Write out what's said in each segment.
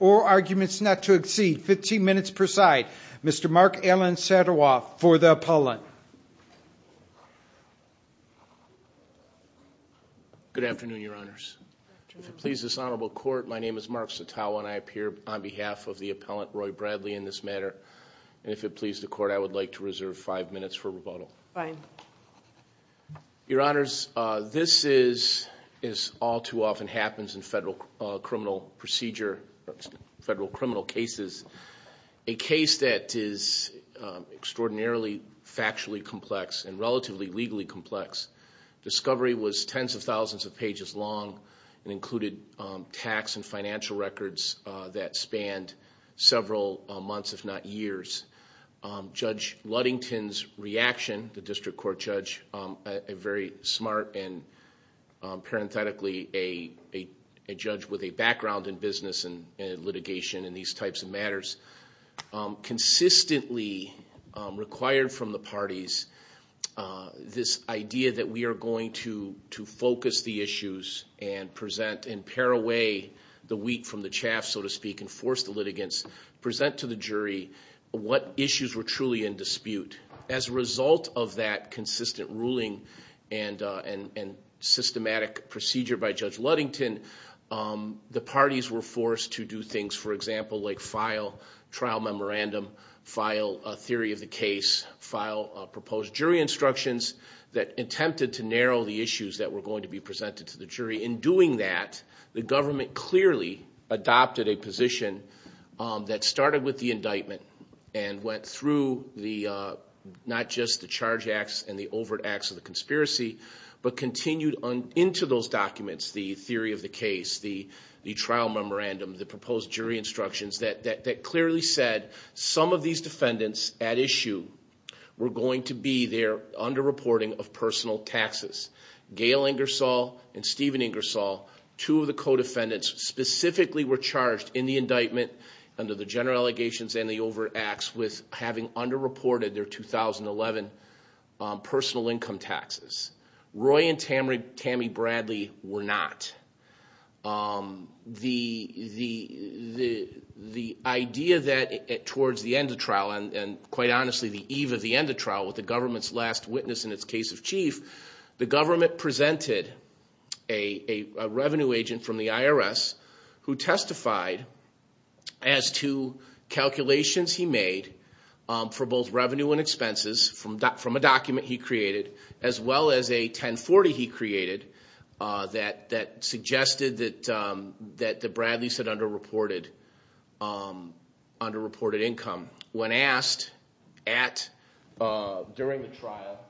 or arguments not to exceed 15 minutes per side. Mr. Mark Alan Sadowoff for the appellant. Good afternoon your honors. If it pleases this honorable court my name is Mark Satowa and I appear on behalf of the appellant Roy Bradley in this matter and if it pleases the court I would like to reserve five minutes for rebuttal. Your honors this is as all too often happens in federal criminal procedure federal criminal cases a case that is extraordinarily factually complex and relatively legally complex. Discovery was tens of thousands of pages long and included tax and Ludington's reaction the district court judge a very smart and parenthetically a judge with a background in business and litigation and these types of matters consistently required from the parties this idea that we are going to to focus the issues and present and pare away the wheat from the chaff so to speak and force the litigants present to the jury what issues were truly in dispute. As a result of that consistent ruling and systematic procedure by judge Ludington the parties were forced to do things for example like file trial memorandum, file a theory of the case, file proposed jury instructions that attempted to narrow the issues that were going to be presented to the jury. In doing that the government clearly adopted a position that started with the indictment and went through the not just the charge acts and the overt acts of the conspiracy but continued on into those documents the theory of the case, the trial memorandum, the proposed jury instructions that clearly said some of these defendants at issue were going to be there under reporting of personal taxes. Gail Ingersoll and Stephen Ingersoll two of the co-defendants specifically were charged in the indictment under the general allegations and the over acts with having under reported their 2011 personal income taxes. Roy and Tammy Bradley were not. The idea that towards the end of trial and quite honestly the eve of the end of trial with the government's last witness in its case of chief the government presented a revenue agent from the IRS who testified as to calculations he made for both revenue and expenses from a document he created as well as a 1040 he created that suggested that the Bradley's had under reported income. When asked at during the trial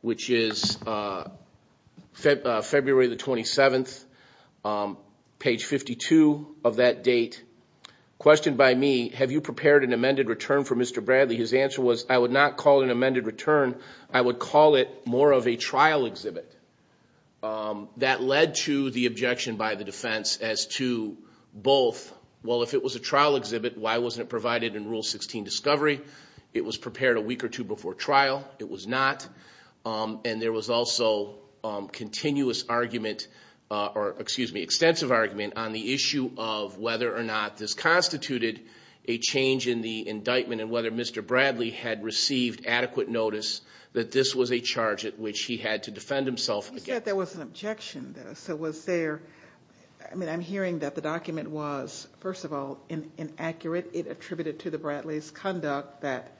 which is February the 27th page 52 of that date questioned by me have you prepared an amended return for Mr. Bradley his answer was I would not call it an amended return I would call it more of a trial exhibit that led to the objection by the defense as to both well if it was a trial exhibit why wasn't it provided in rule 16 discovery it was prepared a week or two before trial it was not and there was also continuous argument or excuse me extensive argument on the issue of whether or not this constituted a change in the indictment and whether Mr. Bradley had received adequate notice that this was a charge at which he had to defend there was an objection there so was there I mean I'm hearing that the document was first of all inaccurate it attributed to the Bradley's conduct that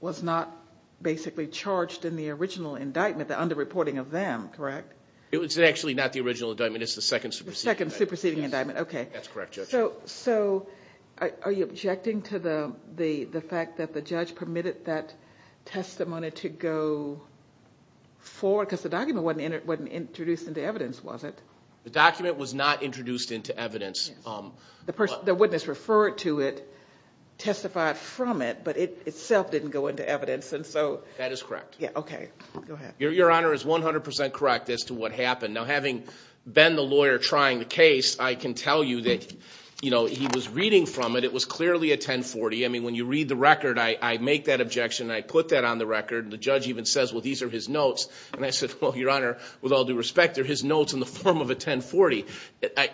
was not basically charged in the original indictment the under reporting of them correct it was actually not the original indictment it's the second superseding the second superseding indictment okay that's correct so so are you objecting to the the the fact that the judge permitted that testimony to go forward because the document wasn't in it wasn't introduced into evidence was it the document was not introduced into evidence the person the witness referred to it testified from it but it itself didn't go into evidence and so that is correct yeah okay go ahead your honor is 100 correct as to what happened now having been the lawyer trying the case I can tell you that you know he was reading from it it was clearly a 1040 I mean when you read the record I make that objection I put that on the record the judge even says well these are his notes and I said well your honor with all due respect they're his notes in the form of a 1040 I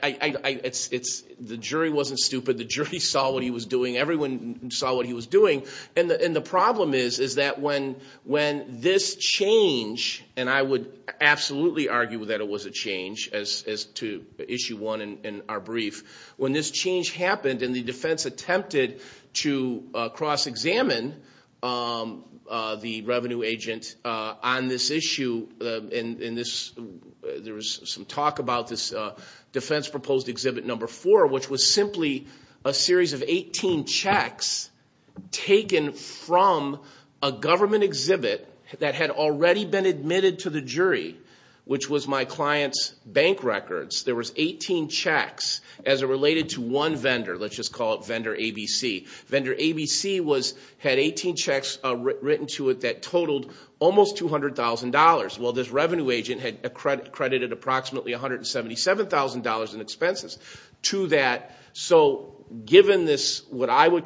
it's it's the jury wasn't stupid the jury saw what he was doing everyone saw what he was doing and the problem is is that when when this change and I would absolutely argue that it was a change as to issue one in our brief when this change happened and the defense attempted to cross-examine the revenue agent on this issue in this there was some talk about this defense proposed exhibit number four which was simply a series of 18 checks taken from a government exhibit that had already been admitted to the jury which was my clients bank records there was 18 checks as it related to one vendor let's just call it vendor ABC vendor ABC was had 18 checks written to it that totaled almost two hundred thousand dollars well this revenue agent had accredited approximately one hundred and seventy seven thousand dollars in expenses to that so given this what I would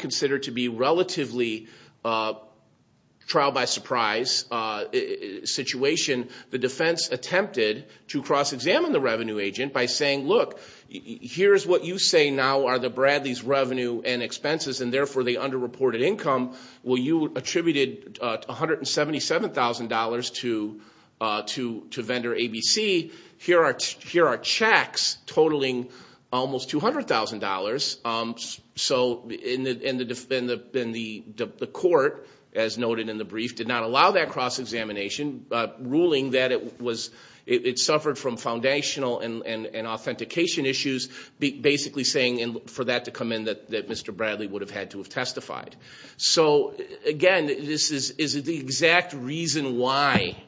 the defense attempted to cross-examine the revenue agent by saying look here's what you say now are the Bradley's revenue and expenses and therefore they underreported income well you attributed uh one hundred and seventy seven thousand dollars to uh to to vendor ABC here are here are checks totaling almost two hundred thousand dollars um so in the in the in the the court as noted in the brief did not allow that cross-examination uh ruling that it was it suffered from foundational and and authentication issues basically saying and for that to come in that that Mr. Bradley would have had to have testified so again this is is the exact reason why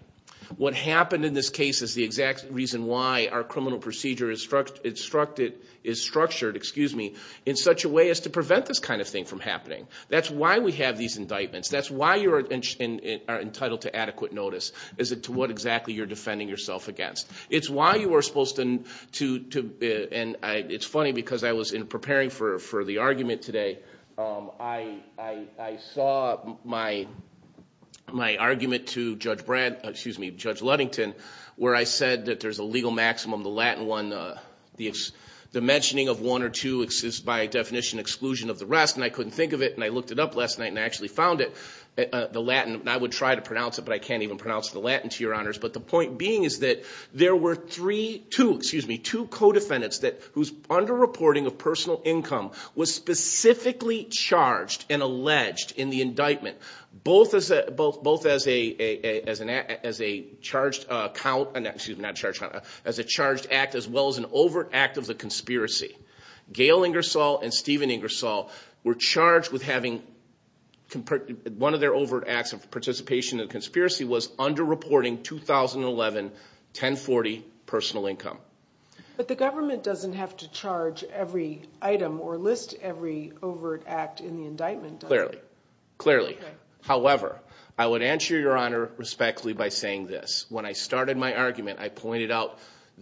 what happened in this case is the exact reason why our criminal procedure is instructed is structured excuse me in such a way as to prevent this kind of thing from happening that's why we have these indictments that's why you're in are entitled to adequate notice is it to what exactly you're defending yourself against it's why you were supposed to to to and I it's funny because I was in preparing for for the argument today um I I I saw my my argument to Judge Brad excuse me Judge Ludington where I said that there's a legal maximum the latin one uh the the mentioning of one or two exists by definition exclusion of the rest and I couldn't think of it and I looked it up last night and I actually found it the latin I would try to pronounce it but I can't even pronounce the latin to your honors but the point being is that there were three two excuse me two co-defendants that whose under reporting of personal income was specifically charged and alleged in the indictment both as a both both a charged act as well as an overt act of the conspiracy Gail Ingersoll and Stephen Ingersoll were charged with having one of their overt acts of participation in the conspiracy was under reporting 2011 1040 personal income but the government doesn't have to charge every item or list every overt act in the indictment clearly clearly however I would answer your argument I pointed out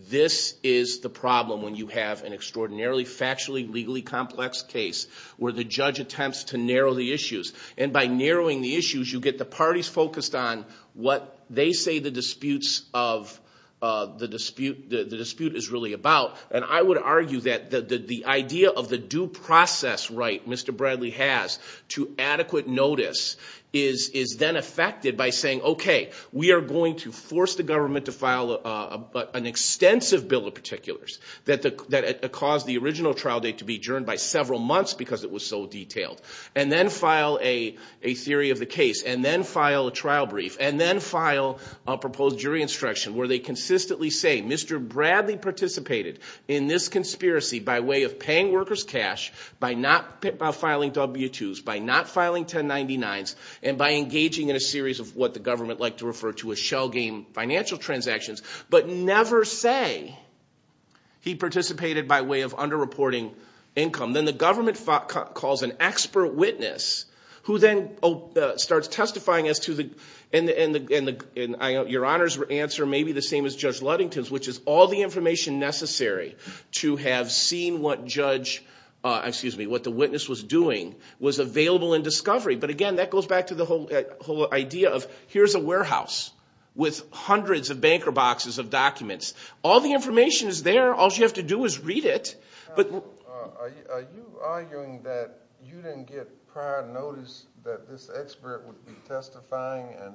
this is the problem when you have an extraordinarily factually legally complex case where the judge attempts to narrow the issues and by narrowing the issues you get the parties focused on what they say the disputes of uh the dispute the dispute is really about and I would argue that the the idea of the due process right Mr. Bradley has to adequate notice is is then affected by saying okay we are going to force the government to file a an extensive bill of particulars that the that caused the original trial date to be adjourned by several months because it was so detailed and then file a a theory of the case and then file a trial brief and then file a proposed jury instruction where they consistently say Mr. Bradley participated in this conspiracy by way of paying workers cash by not by filing w-2s by not filing 1099s and by engaging in a series of what the government like to refer to as shell game financial transactions but never say he participated by way of under reporting income then the government calls an expert witness who then starts testifying as to the and the and the and the and I your answer may be the same as Judge Ludington's which is all the information necessary to have seen what judge uh excuse me what the witness was doing was available in discovery but again that goes back to the whole whole idea of here's a warehouse with hundreds of banker boxes of documents all the information is there all you have to do is read it but are you arguing that you didn't get prior that this expert would be testifying and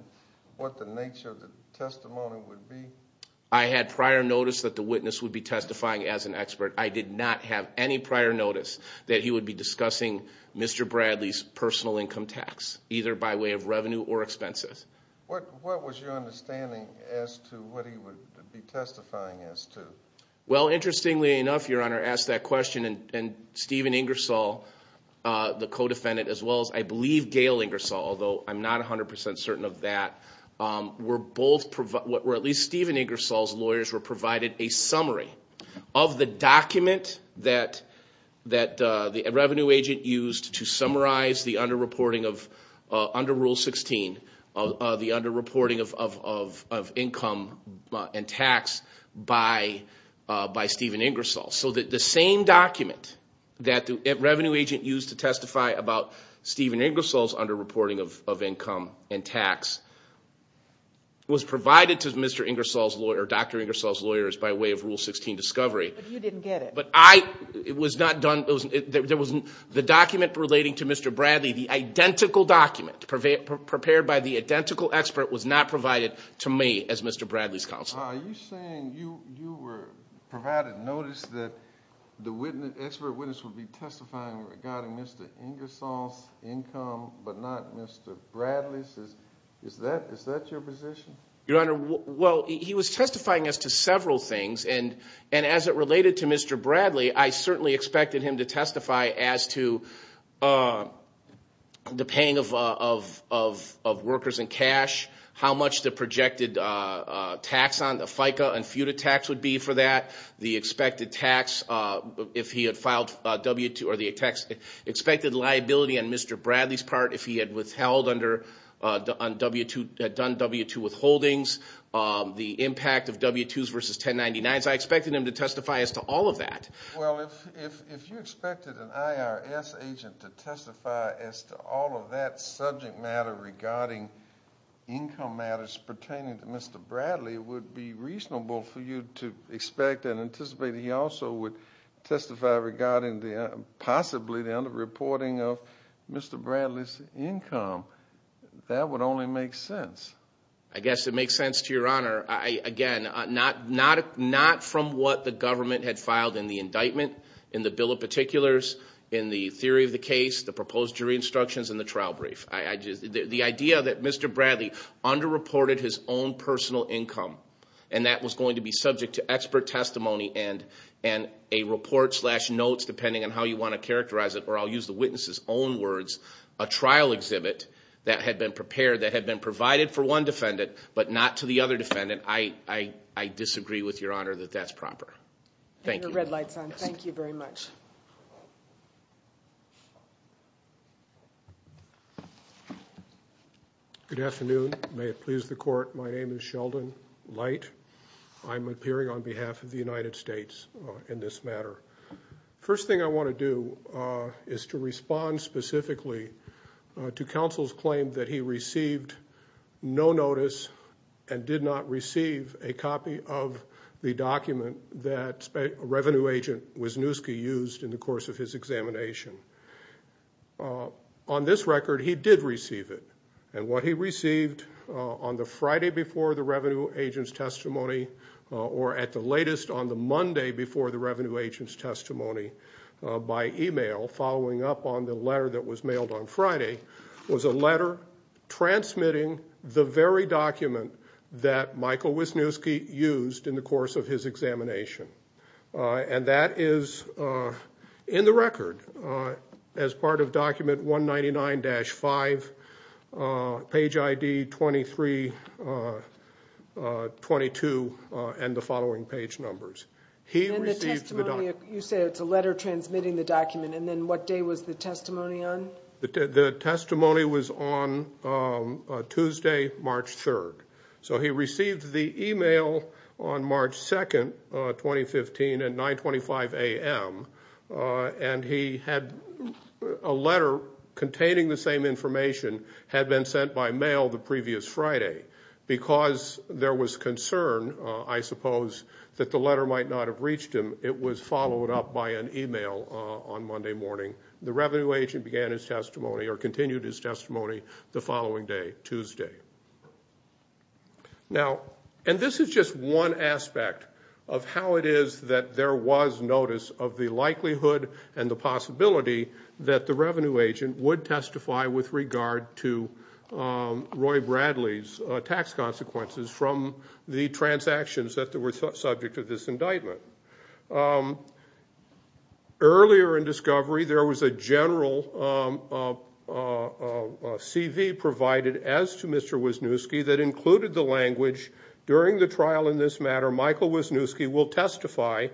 what the nature of the testimony would be I had prior notice that the witness would be testifying as an expert I did not have any prior notice that he would be discussing Mr. Bradley's personal income tax either by way of revenue or expenses what what was your understanding as to what he would be testifying as to well interestingly enough your honor asked that question and and Stephen Ingersoll uh the I believe Gail Ingersoll although I'm not a hundred percent certain of that um were both provide what were at least Stephen Ingersoll's lawyers were provided a summary of the document that that uh the revenue agent used to summarize the under reporting of uh under rule 16 of the under reporting of of of income and tax by uh by Stephen Ingersoll so that the same document that the revenue agent used to testify about Stephen Ingersoll's under reporting of of income and tax was provided to Mr. Ingersoll's lawyer Dr. Ingersoll's lawyers by way of rule 16 discovery but you didn't get it but I it was not done it wasn't there wasn't the document relating to Mr. Bradley the identical document prepared by the identical expert was not provided to me as Mr. Bradley's counsel are you saying you you were provided notice that the witness expert witness would be testifying regarding Mr. Ingersoll's income but not Mr. Bradley's is is that is that your position your honor well he was testifying as to several things and and as it related to Mr. Bradley I certainly expected him to testify as to uh the paying of uh of of of workers and how much the projected uh uh tax on the FICA and FUTA tax would be for that the expected tax uh if he had filed w2 or the attacks expected liability on Mr. Bradley's part if he had withheld under uh on w2 had done w2 withholdings um the impact of w2s versus 1099s I expected him to testify as to all of that well if if you expected an IRS agent to testify as to all of that subject matter regarding income matters pertaining to Mr. Bradley it would be reasonable for you to expect and anticipate he also would testify regarding the possibly the under reporting of Mr. Bradley's income that would only make sense I guess it makes sense to your honor I again not not not from what the government had filed in the indictment in the bill of particulars in the the idea that Mr. Bradley under reported his own personal income and that was going to be subject to expert testimony and and a report slash notes depending on how you want to characterize it or I'll use the witness's own words a trial exhibit that had been prepared that had been provided for one defendant but not to the other defendant I I I disagree with your honor that that's proper thank you your red light's on thank you very much good afternoon may it please the court my name is Sheldon Light I'm appearing on behalf of the United States in this matter first thing I want to do uh is to respond specifically to counsel's claim that he received no notice and did not receive a copy of the document that a revenue agent Wisniewski used in the course of his examination on this record he did receive it and what he received on the Friday before the revenue agent's testimony or at the latest on the Monday before the revenue agent's testimony by email following up on the letter that was mailed on Friday was a letter transmitting the very document that Michael Wisniewski used in the course of his examination and that is in the record as part of document 199-5 page id 23 uh 22 and the following page numbers he received the document you say it's a letter transmitting the document and then what day was the testimony on the testimony was on Tuesday March 3rd so he received the email on March 2nd 2015 at 9 25 a.m. and he had a letter containing the same information had been sent by mail the previous Friday because there was concern I suppose that the letter might not have reached him it was followed up by an email on Monday morning the revenue agent began his testimony or continued his testimony the following day Tuesday now and this is just one aspect of how it is that there was notice of the likelihood and the possibility that the revenue agent would testify with regard to Roy Bradley's tax consequences from the transactions that were subject to this indictment earlier in discovery there was a general CV provided as to Mr. Wisniewski that included the language during the trial in this matter will testify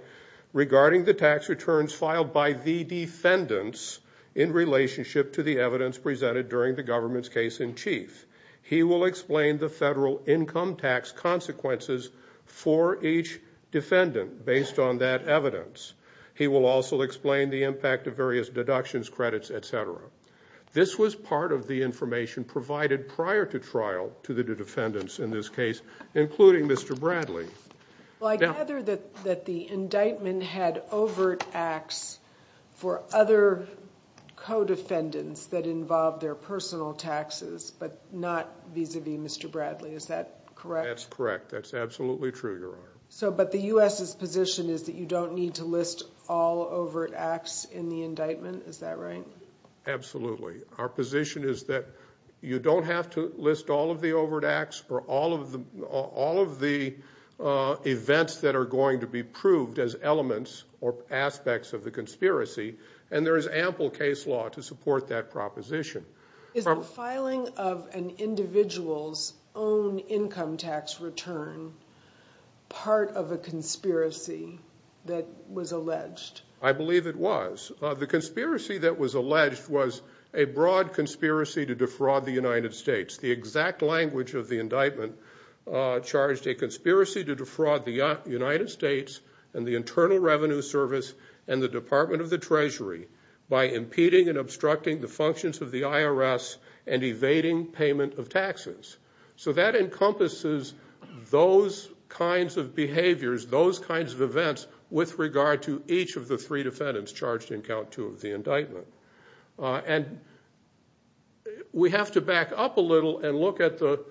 regarding the tax returns filed by the defendants in relationship to the evidence presented during the government's case in chief he will explain the federal income tax consequences for each defendant based on that evidence he will also explain the impact of various deductions credits etc this was part of the information provided prior to trial to the defendants in this case including Mr. Bradley well I gather that that the indictment had overt acts for other co-defendants that involve their personal taxes but not vis-a-vis Mr. Bradley is that correct that's correct that's absolutely true your honor so but the U.S.'s position is that you don't need to list all overt acts in the indictment is that right absolutely our position is that you don't have to list all of the overt acts for all of them all of the events that are going to be proved as elements or aspects of the conspiracy and there is ample case law to support that proposition is the filing of an individual's own income tax return part of a conspiracy that was alleged I believe it was the conspiracy that was alleged was a broad conspiracy to defraud the United States the exact language of the indictment charged a conspiracy to defraud the United States and the Internal Revenue Service and the Department of the Treasury by impeding and obstructing the functions of the IRS and evading payment of taxes so that encompasses those kinds of behaviors those kinds of events with regard to each of the three defendants charged in count two of the indictment and we have to back up a little and look at the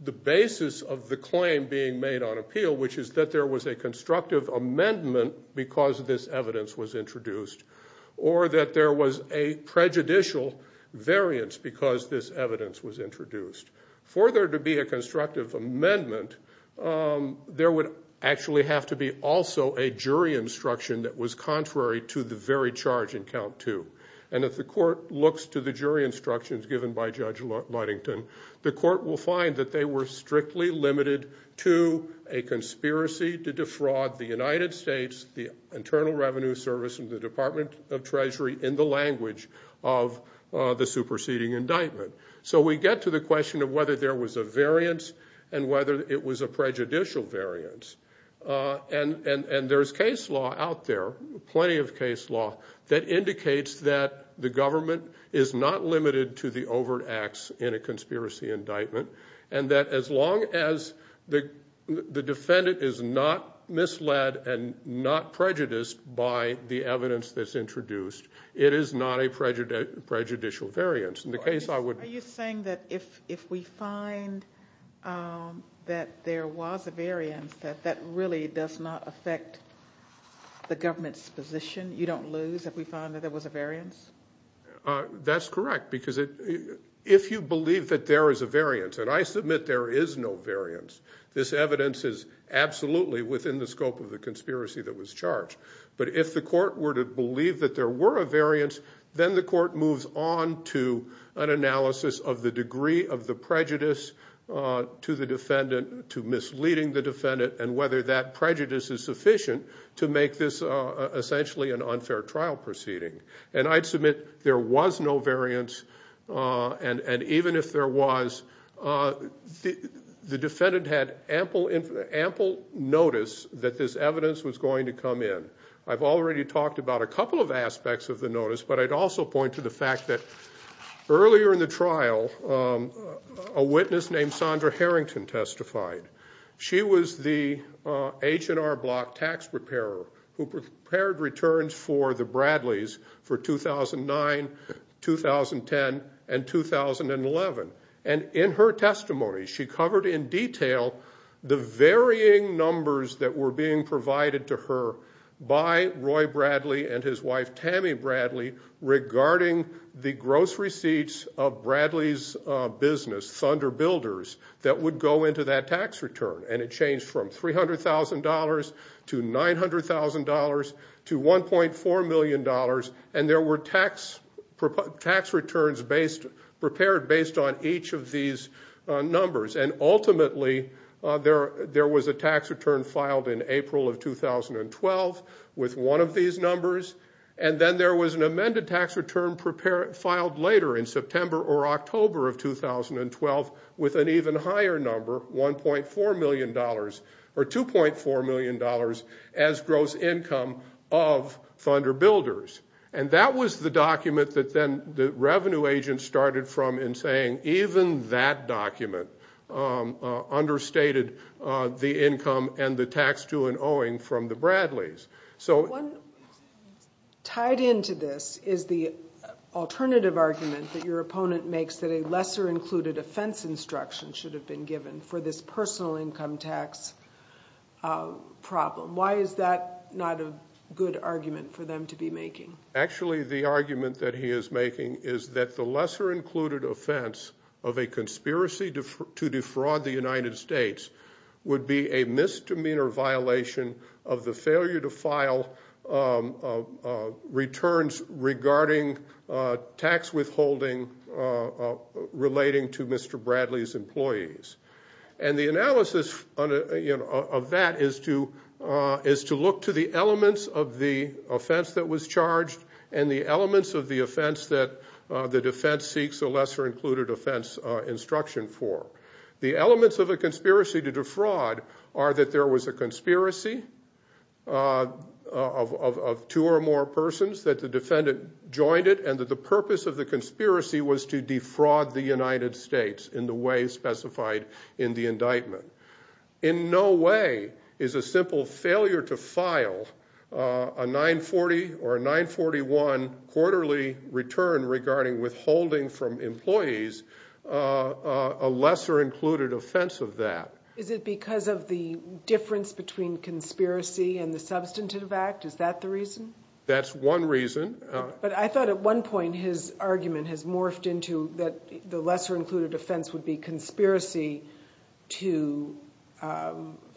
the basis of the claim being made on appeal which is that there was a constructive amendment because this evidence was introduced or that there was a prejudicial variance because this evidence was introduced for there to be a constructive amendment there would actually have to be also a jury instruction that was contrary to the very charge in count two and if the court looks to the jury instructions given by Judge Ludington the court will find that they were strictly limited to a conspiracy to defraud the United States the Internal Revenue Service and the Department of Treasury in the language of the superseding indictment so we get to the and there's case law out there plenty of case law that indicates that the government is not limited to the overt acts in a conspiracy indictment and that as long as the defendant is not misled and not prejudiced by the evidence that's introduced it is not a prejudicial variance are you saying that if if we find that there was a variance that that really does not affect the government's position you don't lose if we found that there was a variance that's correct because it if you believe that there is a variance and I submit there is no variance this evidence is absolutely within the scope of the conspiracy that was charged but if the court were to believe that there were a variance then the court moves on to an analysis of the degree of the prejudice to the defendant to misleading the defendant and whether that prejudice is sufficient to make this essentially an unfair trial proceeding and I'd submit there was no variance and and even if there was the defendant had ample notice that this evidence was going to come in I've already talked about a couple of aspects of the notice but I'd also point to the fact that earlier in the trial a witness named Sondra Harrington testified she was the H&R Block tax preparer who prepared returns for the Bradleys for 2009 2010 and 2011 and in her testimony she covered in detail the varying numbers that were being provided to her by Roy Bradley and his wife Tammy Bradley regarding the gross receipts of Bradley's business Thunder Builders that would go into that tax return and it changed from $300,000 to $900,000 to $1.4 million and there were tax tax returns based prepared based on each of these numbers and ultimately there there was a tax return filed in April of 2012 with one of these numbers and then there was an amended tax return prepared filed later in or $2.4 million as gross income of Thunder Builders and that was the document that then the revenue agent started from in saying even that document understated the income and the tax to and owing from the Bradleys so tied into this is the alternative argument that your opponent makes that a lesser included offense instruction should have been given for this personal income tax problem why is that not a good argument for them to be making actually the argument that he is making is that the lesser included offense of a conspiracy to defraud the United States would be a misdemeanor violation of the failure to file returns regarding tax withholding relating to Mr. Bradley's employees and the analysis of that is to look to the elements of the offense that was charged and the elements of the offense that the defense seeks a lesser included offense instruction for the elements of a conspiracy to defraud are that there was a conspiracy of two or more persons that the defendant joined it and that the purpose of the defraud the United States in the way specified in the indictment in no way is a simple failure to file a 940 or 941 quarterly return regarding withholding from employees a lesser included offense of that is it because of the difference between conspiracy and the substantive act is that's one reason but I thought at one point his argument has morphed into that the lesser included offense would be conspiracy to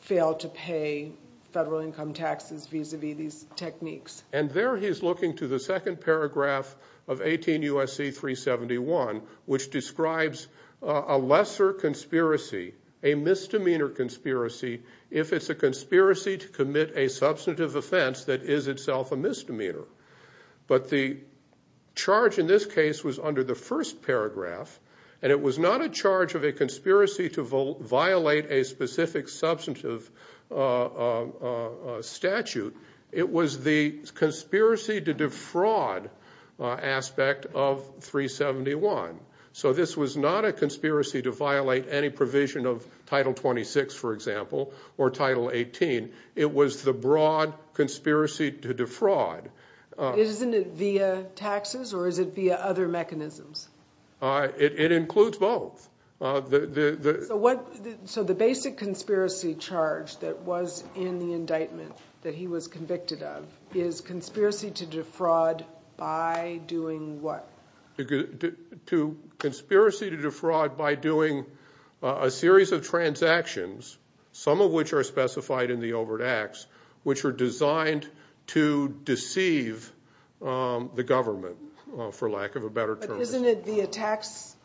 fail to pay federal income taxes vis-a-vis these techniques and there he is looking to the second paragraph of 18 USC 371 which describes a lesser conspiracy a misdemeanor conspiracy if it's a conspiracy to commit a substantive offense that is itself a misdemeanor but the charge in this case was under the first paragraph and it was not a charge of a conspiracy to violate a specific substantive statute it was the conspiracy to defraud aspect of 371 so this was not a conspiracy to violate any provision of title 26 for example or title 18 it was the broad conspiracy to defraud isn't it via taxes or is it via other mechanisms it includes both the the what so the basic conspiracy charge that was in the indictment that he was convicted of is conspiracy to defraud by doing what to conspiracy to defraud by doing a series of transactions some of which are specified in the overt acts which are designed to deceive the government for lack of a better term isn't it via tax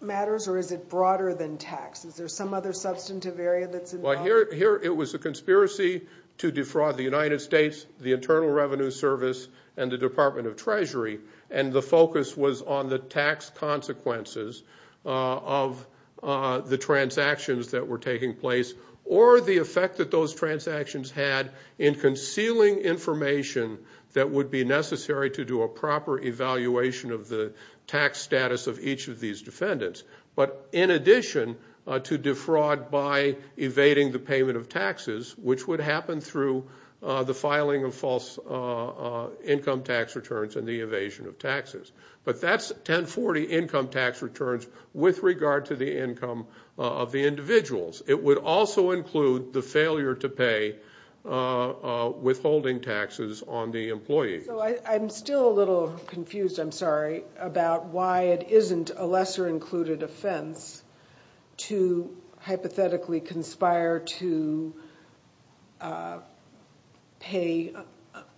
matters or is it broader than tax is there some other substantive area that's involved here it was a conspiracy to defraud the united states the internal revenue service and the department of treasury and the focus was on the tax consequences of the transactions that were taking place or the effect that those transactions had in concealing information that would be necessary to do a proper evaluation of the tax status of each of these defendants but in addition to defraud by evading the payment of taxes which would happen through the filing of false income tax returns and the evasion of taxes but that's 1040 income tax returns with regard to the income of the individuals it would also include the failure to pay withholding taxes on the employees i'm still a little confused i'm sorry about why it isn't a lesser included offense to hypothetically conspire to pay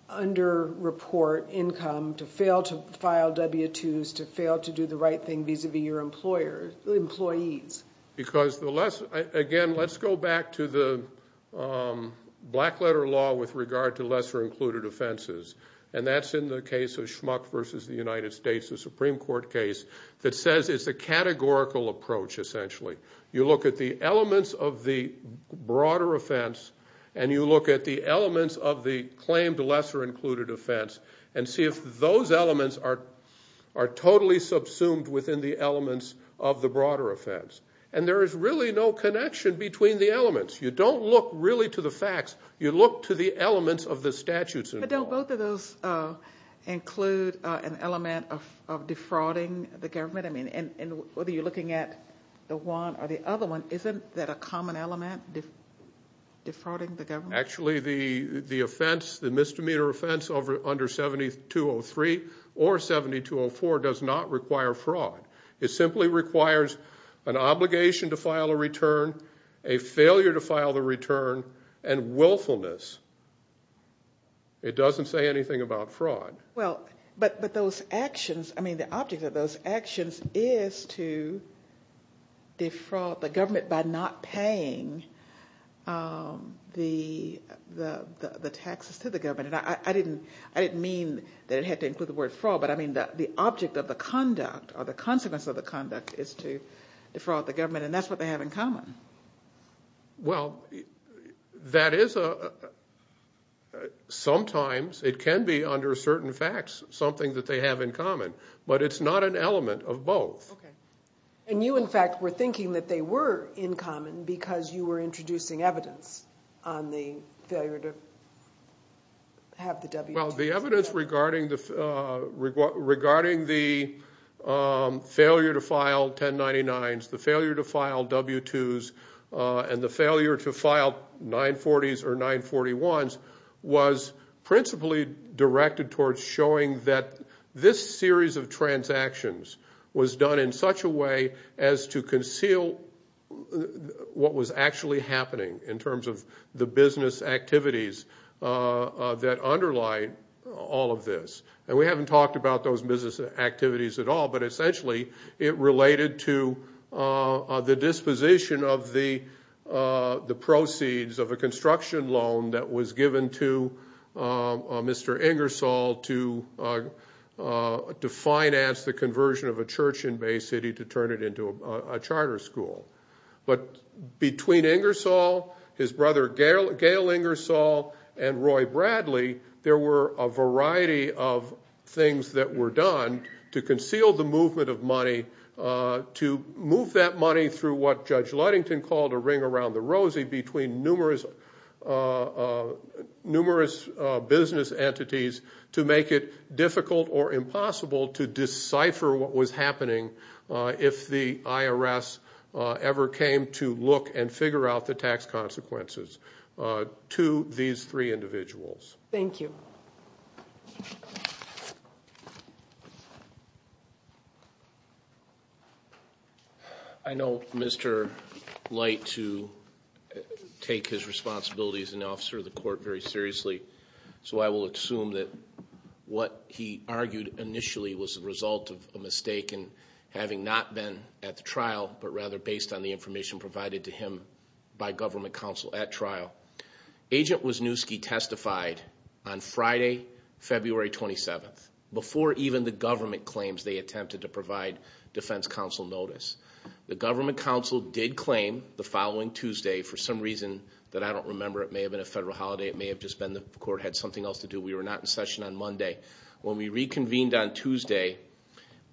under report income to fail to file w-2s to fail to do the right thing vis-a-vis your employees because the less again let's go back to the black letter law with regard to lesser included offenses and that's in the case of schmuck versus the united states the supreme court case that says it's a categorical approach essentially you look at the elements of the broader offense and you look at the elements of the claimed lesser included offense and see if those elements are are totally subsumed within the elements of the broader offense and there is really no connection between the elements you don't look really to the facts you look to the elements of the statutes but don't both of those uh include uh an element of of defrauding the government i mean and whether you're looking at the one or the other one isn't that a common element defrauding the government actually the the offense the misdemeanor offense over under 7203 or 7204 does not require fraud it simply requires an obligation to file a return a failure to file the return and willfulness it doesn't say anything about fraud well but but those actions i mean the object of those actions is to defraud the government by not paying um the the the taxes to the government and i i didn't i didn't mean that it had to include the word fraud but i mean that the object of the conduct or the consequence of the conduct is to defraud the government and that's what they have in common well that is a sometimes it can be under certain facts something that they have in common but it's not an element of both okay and you in fact were thinking that they were in common because you were introducing evidence on the failure to have the w well the evidence regarding the uh regarding the um failure to file 1099s the failure to file w2s uh and the failure to file 940s or 941s was principally directed towards showing that this series of transactions was done in such a way as to conceal what was actually happening in terms of the business activities uh that underlie all of this and we haven't talked about those business activities at all but essentially it related to uh the disposition of the uh the proceeds of a construction loan that was given to uh mr ingersoll to uh to finance the conversion of a church in bay city to turn it into a charter school but between ingersoll his brother gail gail ingersoll and roy bradley there were a variety of things that were done to conceal the movement of money uh to move that money through what judge luddington called a ring around the rosy between numerous uh uh numerous uh business entities to make it difficult or impossible to decipher what was happening uh if the irs uh ever came to look and figure out the tax consequences uh to these three individuals thank you i know mr light to take his responsibilities as an officer of the court very seriously so i will assume that what he argued initially was the result of a mistake and having not been at the trial but rather based on the information provided to him by government counsel at trial agent was new ski testified on friday february 27th before even the government claims they attempted to provide defense council notice the government council did claim the following tuesday for some reason that i don't remember it may have been a federal holiday it may have just been the court had something else to do we were not in session on monday when we reconvened on tuesday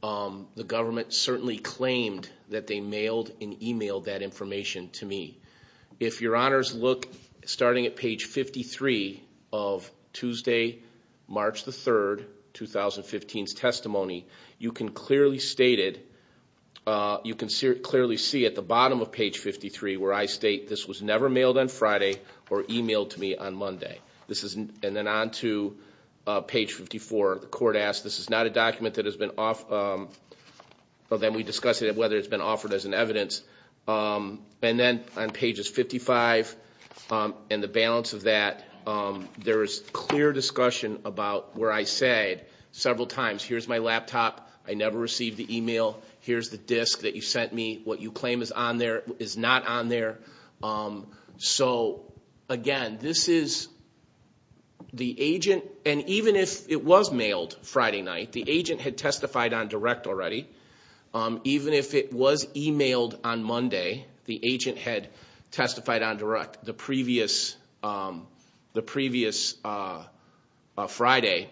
um the government certainly claimed that they mailed and emailed that information to me if your honors look starting at page 53 of tuesday march the 3rd 2015's testimony you can clearly state it uh you can see clearly see at the bottom of page 53 where i state this was never mailed on friday or emailed to me on monday this is and then on to page 54 the court asked this is not a document that has been off um well then we discuss it whether it's been offered as evidence um and then on pages 55 um and the balance of that um there is clear discussion about where i said several times here's my laptop i never received the email here's the disc that you sent me what you claim is on there is not on there um so again this is the agent and even if it was mailed friday night the agent had testified on direct already um even if it was emailed on monday the agent had testified on direct the previous um the previous uh friday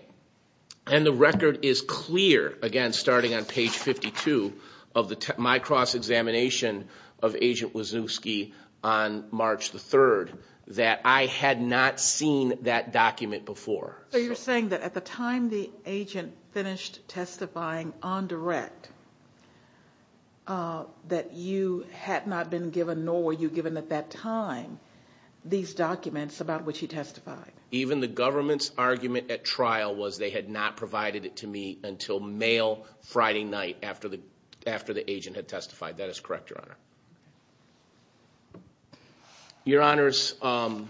and the record is clear again starting on page 52 of the my cross examination of agent wazowski on march the 3rd that i had not seen that document before so you're saying that at the time the agent finished testifying on direct uh that you had not been given nor were you given at that time these documents about which he testified even the government's argument at trial was they had not provided it to me until mail friday night after the after the agent had testified that correct your honor your honors um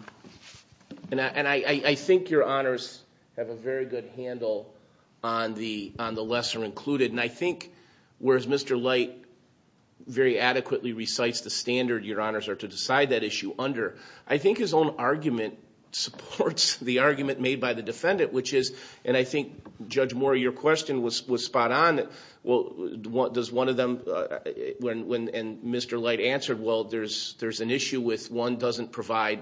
and i and i i think your honors have a very good handle on the on the lesser included and i think whereas mr light very adequately recites the standard your honors are to decide that issue under i think his own argument supports the argument made by the defendant which is and i think judge moore your question was was spot on well what does one of them when when and mr light answered well there's there's an issue with one doesn't provide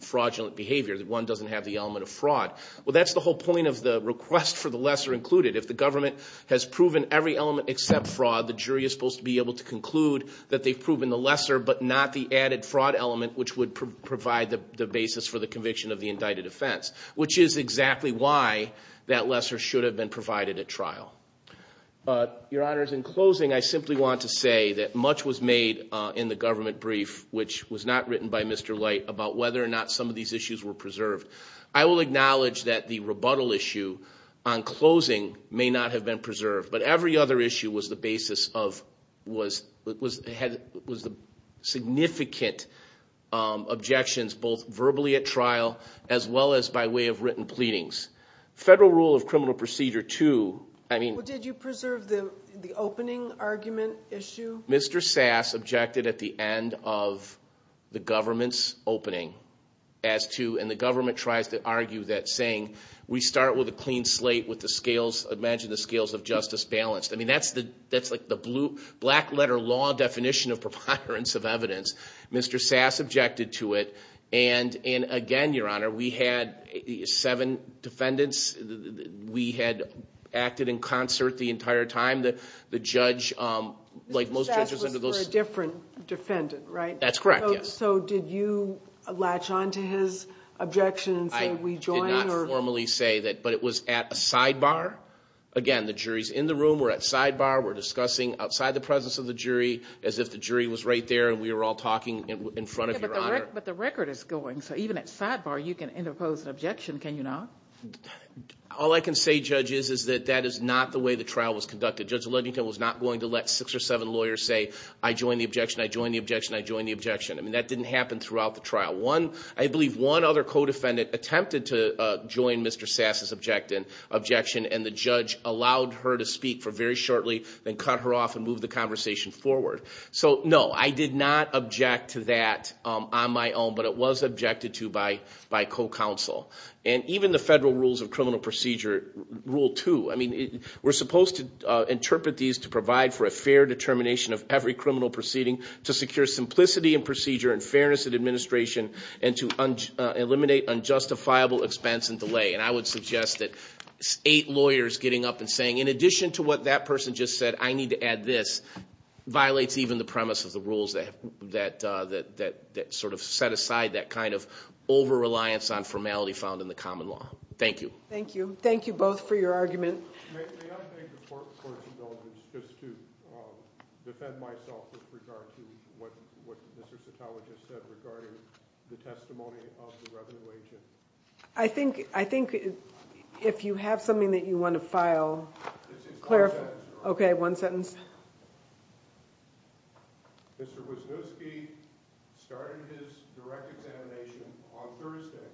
fraudulent behavior that one doesn't have the element of fraud well that's the whole point of the request for the lesser included if the government has proven every element except fraud the jury is supposed to be able to conclude that they've proven the lesser but not the added fraud element which would provide the basis for the conviction of the indicted offense which is exactly why that lesser should have been provided at trial uh your honors in closing i simply want to say that much was made uh in the government brief which was not written by mr light about whether or not some of these issues were preserved i will acknowledge that the rebuttal issue on closing may not have been preserved but every other issue was the basis of was it was had was the significant um objections both verbally at trial as well as by way of written pleadings federal rule of criminal procedure too i mean did you preserve the the opening argument issue mr sass objected at the end of the government's opening as to and the government tries to argue that saying we start with a clean slate with the scales imagine the scales of justice balanced i mean that's the that's like the blue black letter law definition of preponderance of evidence mr sass objected to it and and again your honor we had seven defendants we had acted in concert the entire time that the judge um like most judges under those different defendant right that's correct yes so did you latch on to his objections and we joined or formally say that but it was at a sidebar again the juries in the room were at sidebar were discussing outside the presence of the jury as if the jury was right there and we were all talking in front of your honor but the record is going so even at sidebar you can interpose objection can you not all i can say judge is is that that is not the way the trial was conducted judge ledington was not going to let six or seven lawyers say i joined the objection i joined the objection i joined the objection i mean that didn't happen throughout the trial one i believe one other co-defendant attempted to uh join mr sass's objective objection and the judge allowed her to speak for very shortly then cut her off and move the conversation forward so no i did not object to that um on my own but it was objected to by by co-counsel and even the federal rules of criminal procedure rule two i mean we're supposed to uh interpret these to provide for a fair determination of every criminal proceeding to secure simplicity and procedure and fairness and administration and to eliminate unjustifiable expense and delay and i would suggest that eight lawyers getting up and saying in addition to what that person just said i need to add this violates even the premise of the rules that that uh that that sort of set aside that kind of over-reliance on formality found in the common law thank you thank you thank you both for your argument may i thank the court for its abilities just to um defend myself with regard to what what mr citologist said regarding the testimony of the revenue agent i think i think if you have something that you want to file clarify okay one sentence mr wisniewski started his direct examination on thursday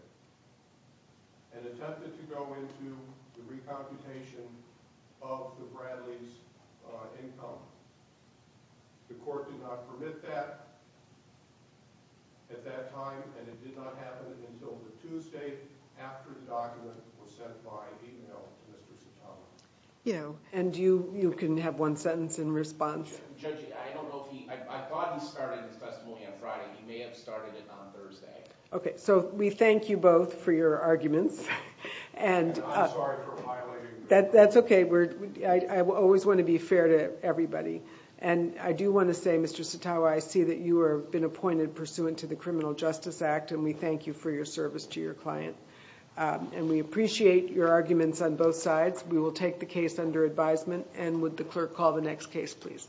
and attempted to go into the recomputation of the bradley's income the court did not permit that at that time and it did not happen until the tuesday after the document was sent by email yeah and you you can have one sentence in response i don't know if he i thought he started his testimony on friday he may have started it on thursday okay so we thank you both for your arguments and i'm sorry for violating that that's okay we're i i always want to be fair to everybody and i do want to say mr sato i see that you have been appointed pursuant to the criminal justice act and we thank you for your service to your client and we appreciate your arguments on both sides we will take the case under advisement and would the clerk call the next case please